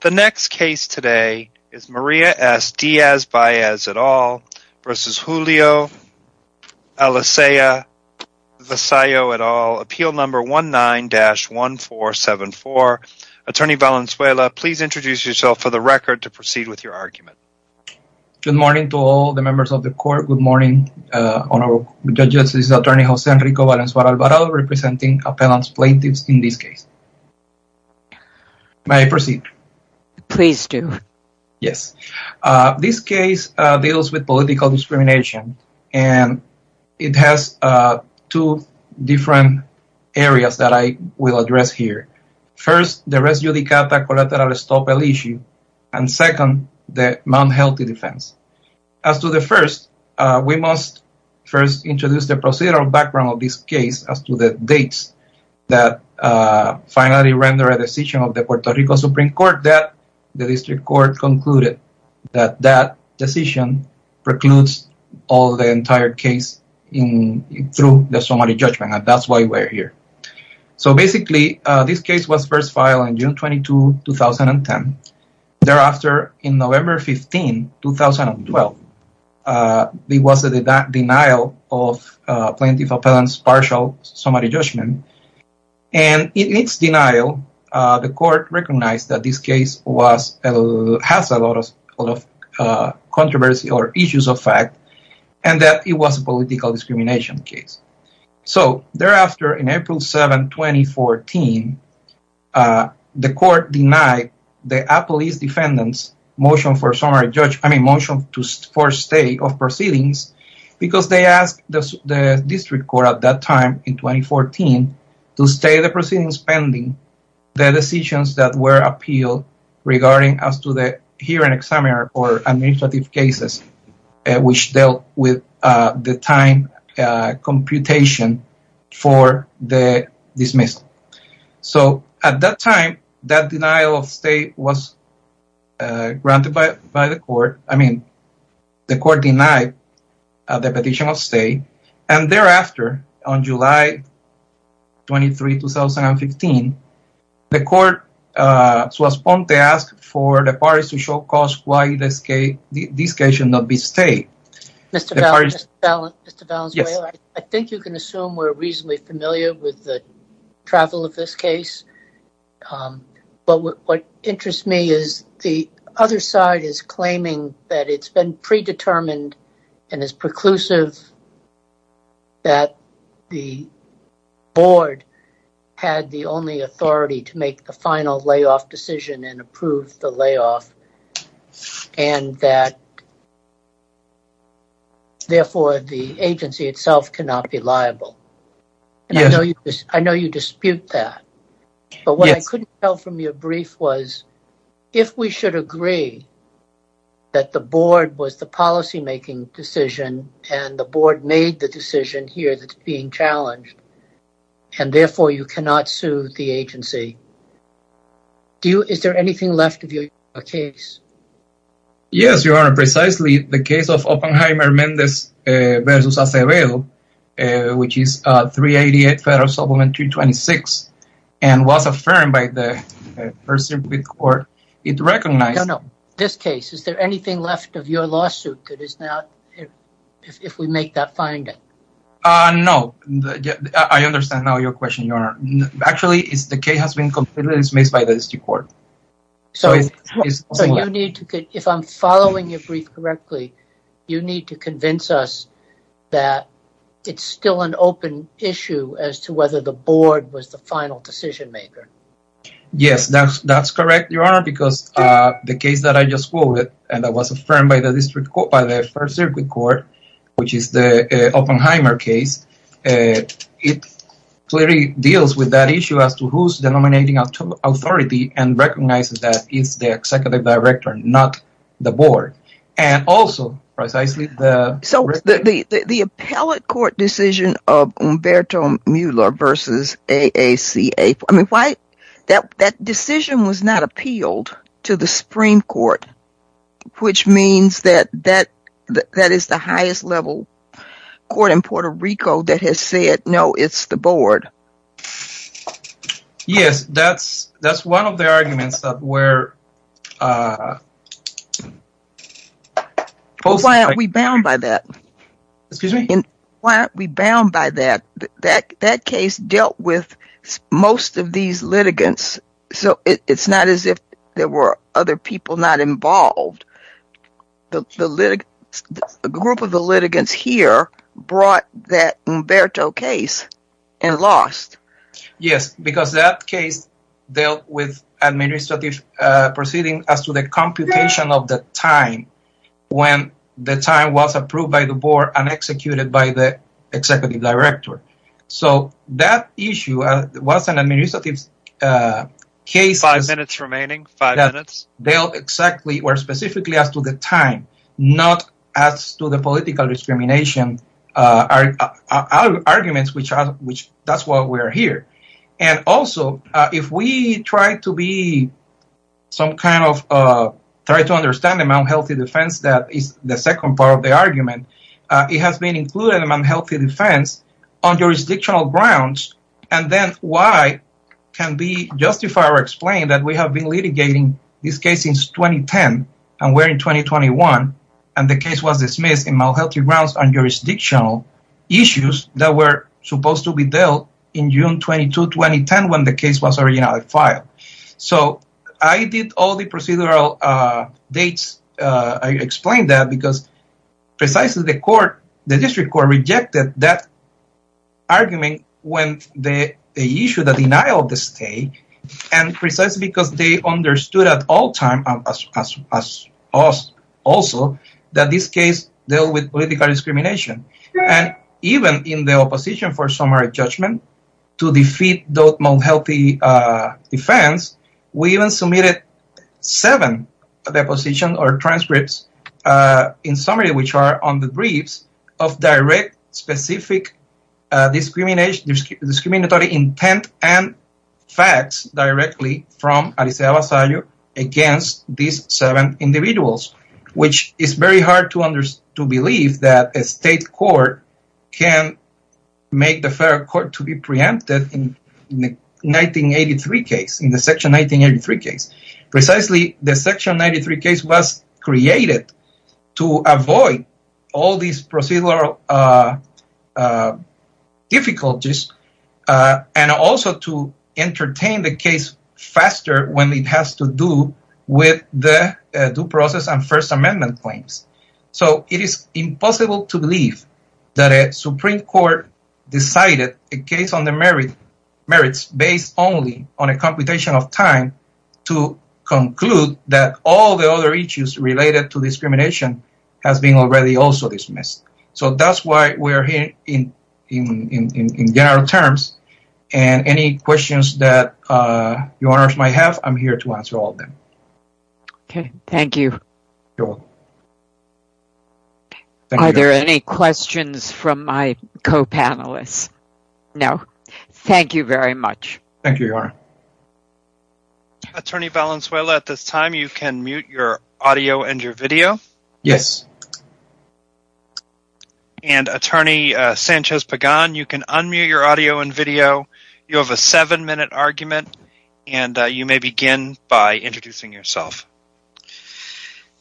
The next case today is Maria S. Diaz-Baez et al. versus Julio Alicea-Vasallo et al. Appeal number 19-1474. Attorney Valenzuela, please introduce yourself for the record to proceed with your argument. Good morning to all the members of the court. Good morning on our judges. This is attorney Jose Enrico Valenzuela Alvarado representing appellant's plaintiffs in this case. May I proceed? Please do. Yes. This case deals with political discrimination and it has two different areas that I will address here. First, the res judicata collateral estoppel issue and second, the unhealthy defense. As to the first, we must first introduce the procedural background of this case as to the dates that finally render a decision of the Puerto Rico Supreme Court that the district court concluded that that decision precludes all the entire case through the summary judgment and that's why we're here. So basically, this case was first filed on June 22, 2010. Thereafter, in November 15, 2012, there was a denial of plaintiff appellant's partial summary judgment and in its denial, the court recognized that this case has a lot of controversy or issues of fact and that it was a political discrimination case. So thereafter, in April 7, 2014, the court denied the appellee's defendant's motion for summary judgment, I mean motion to force stay of proceedings because they asked the district court at that time in 2014 to stay the proceedings pending the decisions that were appealed regarding as to the hearing or administrative cases which dealt with the time computation for the dismissal. So at that time, that denial of stay was granted by the court, I mean the court denied the petition of stay and thereafter, on July 23, 2015, the court to respond, they asked for the parties to show cause why this case should not be stayed. Mr. Valenzuela, I think you can assume we're reasonably familiar with the travel of this case, but what interests me is the other side is that the board had the only authority to make the final layoff decision and approve the layoff and that therefore, the agency itself cannot be liable. I know you dispute that, but what I couldn't tell from your brief was if we should agree that the board was the policy decision and the board made the decision here that's being challenged and therefore, you cannot sue the agency. Is there anything left of your case? Yes, Your Honor, precisely the case of Oppenheimer-Mendez versus Acevedo, which is 388 federal supplement 326 and was affirmed by the person with court, it recognized... This case, is there anything left of your lawsuit if we make that finding? No, I understand now your question, Your Honor. Actually, the case has been completely dismissed by the district court. So, if I'm following your brief correctly, you need to convince us that it's still an open issue as to whether the board was the final decision maker. Yes, that's correct, Your Honor, because the case that I just quoted and that was affirmed by the first circuit court, which is the Oppenheimer case, it clearly deals with that issue as to who's denominating authority and recognizes that it's the executive director, not the board. And also, precisely the... So, the appellate court decision of Umberto Mueller versus AACA, I mean, that decision was not appealed to the Supreme Court, which means that that is the highest level court in Puerto Rico that has said, no, it's the board. Yes, that's one of the arguments that were... Why aren't we bound by that? Excuse me? Why aren't we bound by that? That case dealt with most of these litigants, so it's not as if there were other people not involved. The group of the litigants here brought that Umberto case and lost. Yes, because that case dealt with administrative proceedings as to the computation of the time when the time was approved by the board and executed by the executive director. So, that issue was an administrative case... Five minutes remaining, five minutes. ...dealt exactly or specifically as to the time, not as to the political discrimination arguments, which that's why we're here. And also, if we try to be some kind of... The second part of the argument, it has been included in unhealthy defense on jurisdictional grounds, and then why can't we justify or explain that we have been litigating this case since 2010, and we're in 2021, and the case was dismissed on unhealthy grounds on jurisdictional issues that were supposed to be dealt in June 22, 2010, when the case was dismissed. I explain that because precisely the court, the district court rejected that argument when they issued a denial of the state, and precisely because they understood at all time, also, that this case dealt with political discrimination. And even in the opposition for summary judgment, to defeat those unhealthy defense, we even submitted seven depositions or transcripts in summary, which are on the briefs of direct specific discriminatory intent and facts directly from Alicia Abasayo against these seven individuals, which is very hard to believe that a state court can make the fair court to be preempted in the section 1983 case. Precisely, the section 93 case was created to avoid all these procedural difficulties and also to entertain the case faster when it has to do with the due process and First Amendment claims. So it is impossible to believe that a Supreme Court decided a case on the merits based only on a computation of time to conclude that all the other issues related to discrimination has been already also dismissed. So that's why we're here in general terms. And any questions that your honors might have, I'm here to answer all of them. Okay, thank you. Are there any questions from my co-panelists? No. Thank you very much. Thank you, your honor. Attorney Valenzuela, at this time, you can mute your audio and your video. Yes. And attorney Sanchez-Pagan, you can unmute your audio and video. You have a seven-minute argument and you may begin by introducing yourself.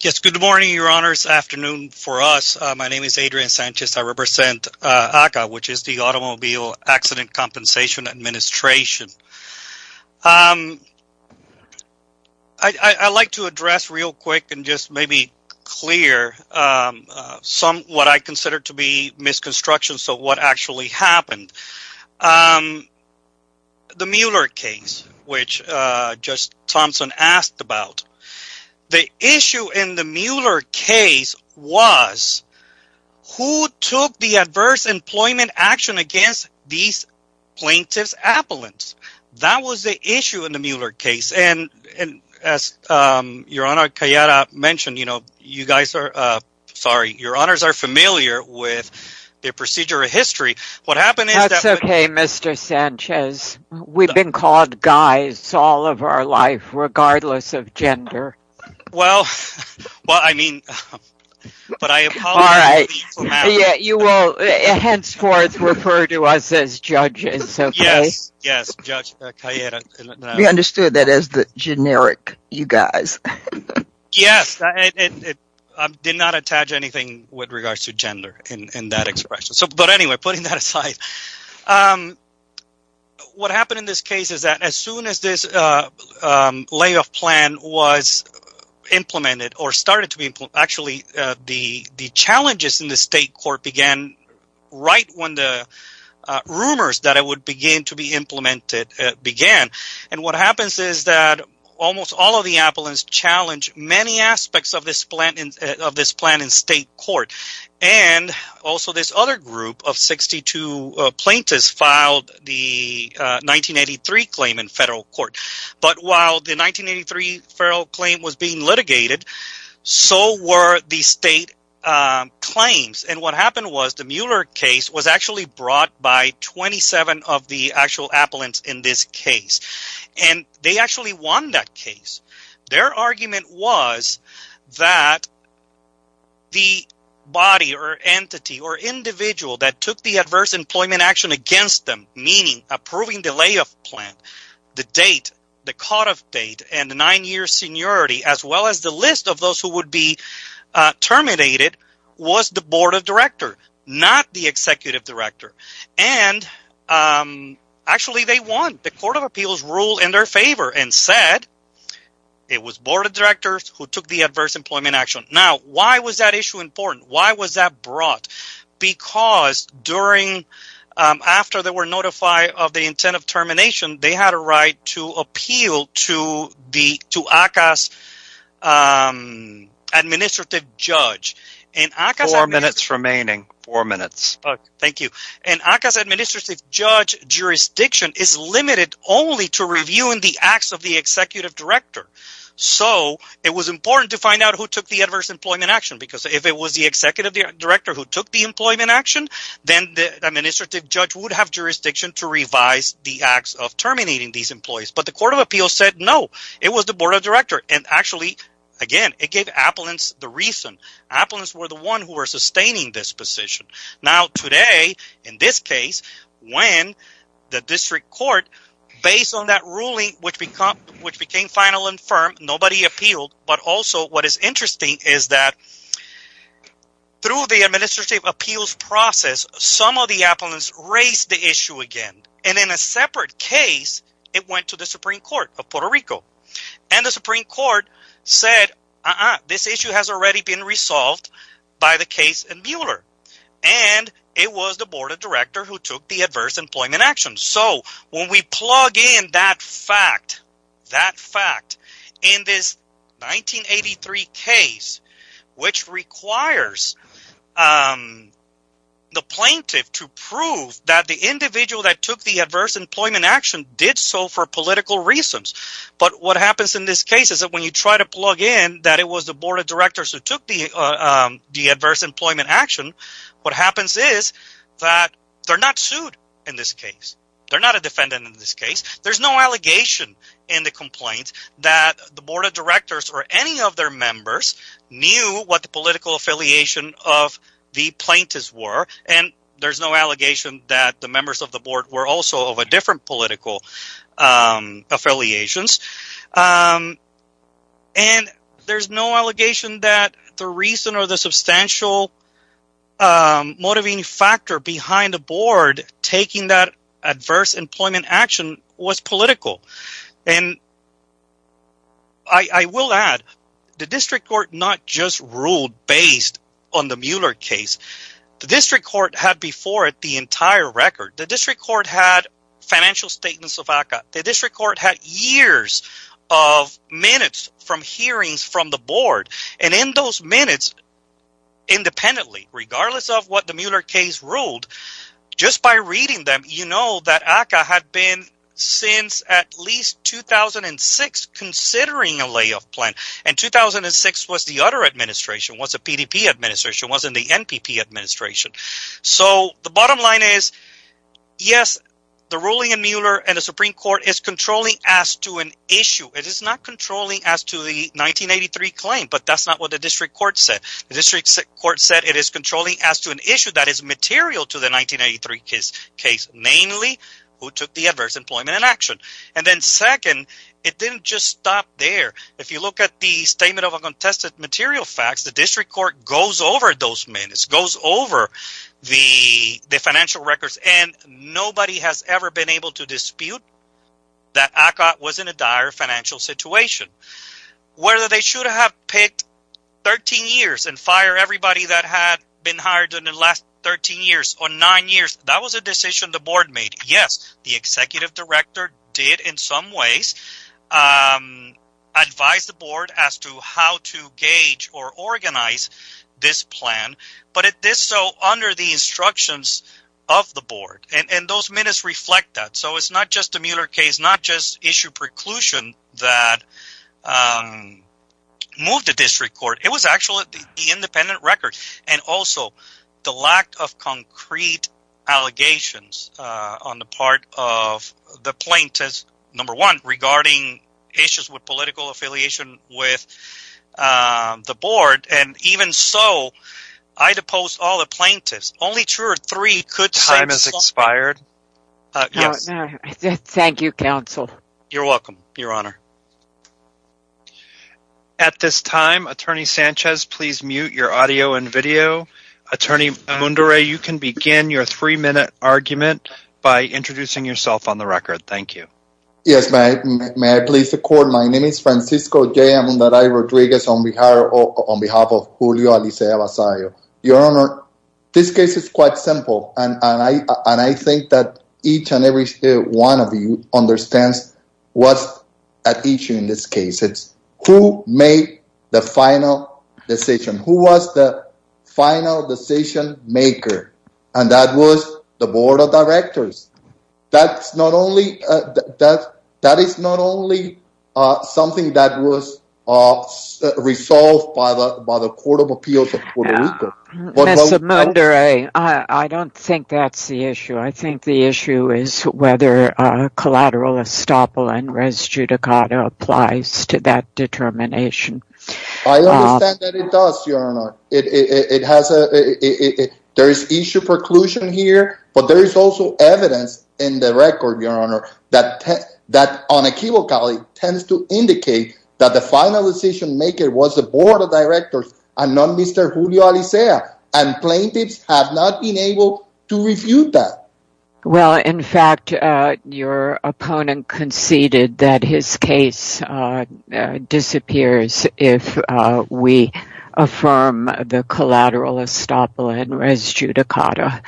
Yes, good morning, your honors. Afternoon for us. My name is Adrian Sanchez. I represent ACCA, which is the Automobile Accident Compensation Administration. I'd like to address real quick and just maybe clear what I consider to be misconstruction, so what actually happened. The Mueller case, which Judge Thompson asked about, the issue in the Mueller case was who took the adverse employment action against these plaintiffs' appellants. That was the issue in the Mueller case. And as your honor Cayeta mentioned, you guys are, sorry, your honors are familiar with the procedure of history. What happened is- That's okay, Mr. Sanchez. We've been called guys all of our life, regardless of gender. Well, I mean, but I apologize- You will henceforth refer to us as judges, okay? Yes, yes, Judge Cayeta. We understood that as the generic, you guys. Yes, I did not attach anything with regards to gender in that expression. But anyway, putting that aside, what happened in this case is that as soon as this layoff plan was implemented or started to be implemented, actually the challenges in the state court began right when the rumors that it would begin to be implemented began. And what happens is that almost all of the appellants challenged many aspects of this plan in state court. And also, this other group of 62 plaintiffs filed the 1983 claim in federal court. But while the 1983 federal claim was being litigated, so were the state claims. And what happened was, the Mueller case was actually brought by 27 of the actual appellants in this case. And they actually won that case. Their argument was that the body or entity or individual that took the adverse employment action against them, meaning approving the layoff plan, the date, the cutoff date, and the nine-year seniority, as well as the list of those who would be terminated, was the board of director, not the executive director. And actually they won. The court of appeals ruled in their favor and said it was board of directors who took the adverse employment action. Now, why was that issue important? Why was that brought? Because after they were notified of the intent of termination, they had a right to appeal to it only to review in the acts of the executive director. So it was important to find out who took the adverse employment action. Because if it was the executive director who took the employment action, then the administrative judge would have jurisdiction to revise the acts of terminating these employees. But the court of appeals said no, it was the board of directors. And actually, again, it gave appellants the reason. Appellants were the ones who were sustaining this position. Now today, in this case, when the district court, based on that ruling, which became final and firm, nobody appealed. But also what is interesting is that through the administrative appeals process, some of the appellants raised the issue again. And in a separate case, it went to the Supreme Court of Puerto Rico. And the Supreme Court said, this issue has already been resolved by the case in Mueller. And it was the board of directors who took the adverse employment action. So when we plug in that fact, that fact in this 1983 case, which requires the plaintiff to prove that the individual that took the adverse employment action did so for political reasons. But what happens in this case is that when you try to plug in that it was the board of directors who took the adverse employment action, what happens is that they're not sued in this case. They're not a defendant in this case. There's no allegation in the complaint that the board of directors or any of their members knew what the political affiliation of the plaintiffs were. And there's no allegation that the members of the board were different political affiliations. And there's no allegation that the reason or the substantial motivating factor behind the board taking that adverse employment action was political. And I will add, the district court not just ruled based on the Mueller case. The district court had before it the entire record. The district court had financial statements of ACCA. The district court had years of minutes from hearings from the board. And in those minutes, independently, regardless of what the Mueller case ruled, just by reading them, you know that ACCA had been since at least 2006 considering a layoff plan. And 2006 was the other administration, was a PDP administration, was in the NPP administration. So the bottom line is, yes, the ruling in Mueller and the Supreme Court is controlling as to an issue. It is not controlling as to the 1983 claim, but that's not what the district court said. The district court said it is controlling as to an issue that is material to the 1983 case, namely who took the adverse employment inaction. And then second, it didn't just stop there. If you look at the material facts, the district court goes over those minutes, goes over the financial records, and nobody has ever been able to dispute that ACCA was in a dire financial situation. Whether they should have picked 13 years and fired everybody that had been hired in the last 13 years or nine years, that was a decision the board made. Yes, the executive director did in gauge or organize this plan, but it did so under the instructions of the board. And those minutes reflect that. So it's not just the Mueller case, not just issue preclusion that moved the district court. It was actually the independent record and also the lack of concrete allegations on the part of the plaintiffs, number one, regarding issues with political affiliation with the board. And even so, I'd oppose all the plaintiffs. Only two or three could say... Time has expired. Thank you, counsel. You're welcome, your honor. At this time, attorney Sanchez, please mute your audio and video. Attorney Mundere, you can begin your three-minute argument by introducing yourself on the record. Thank you. Yes, may I please record my name is Francisco J. Mundere Rodriguez on behalf of Julio Alicia Abasayo. Your honor, this case is quite simple, and I think that each and every one of you understands what's at issue in this case. It's who made the final decision. Who was the final decision maker? And that was the board of directors. That is not only something that was resolved by the Court of Appeals of Puerto Rico. Mr. Mundere, I don't think that's the issue. I think the issue is whether collateral estoppel and res judicata applies to that determination. I understand that it does, your honor. There is issue preclusion here, but there is also evidence in the record, your honor, that unequivocally tends to indicate that the final decision maker was the board of directors and not Mr. Julio Alicia, and plaintiffs have not been able to refute that. Well, in fact, your opponent conceded that his case disappears if we affirm the collateral estoppel and res judicata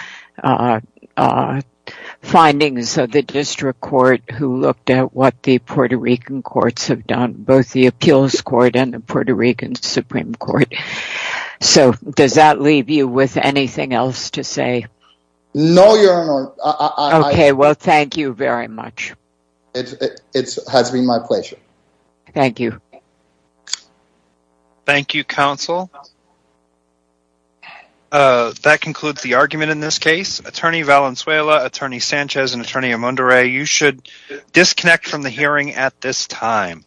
findings of the district court who looked at what Puerto Rican courts have done, both the appeals court and the Puerto Rican Supreme Court. So, does that leave you with anything else to say? No, your honor. Okay, well, thank you very much. It has been my pleasure. Thank you. Thank you, counsel. That concludes the argument in this case. Attorney Valenzuela, attorney Sanchez, and attorney Amundaray, you should disconnect from the hearing at this time.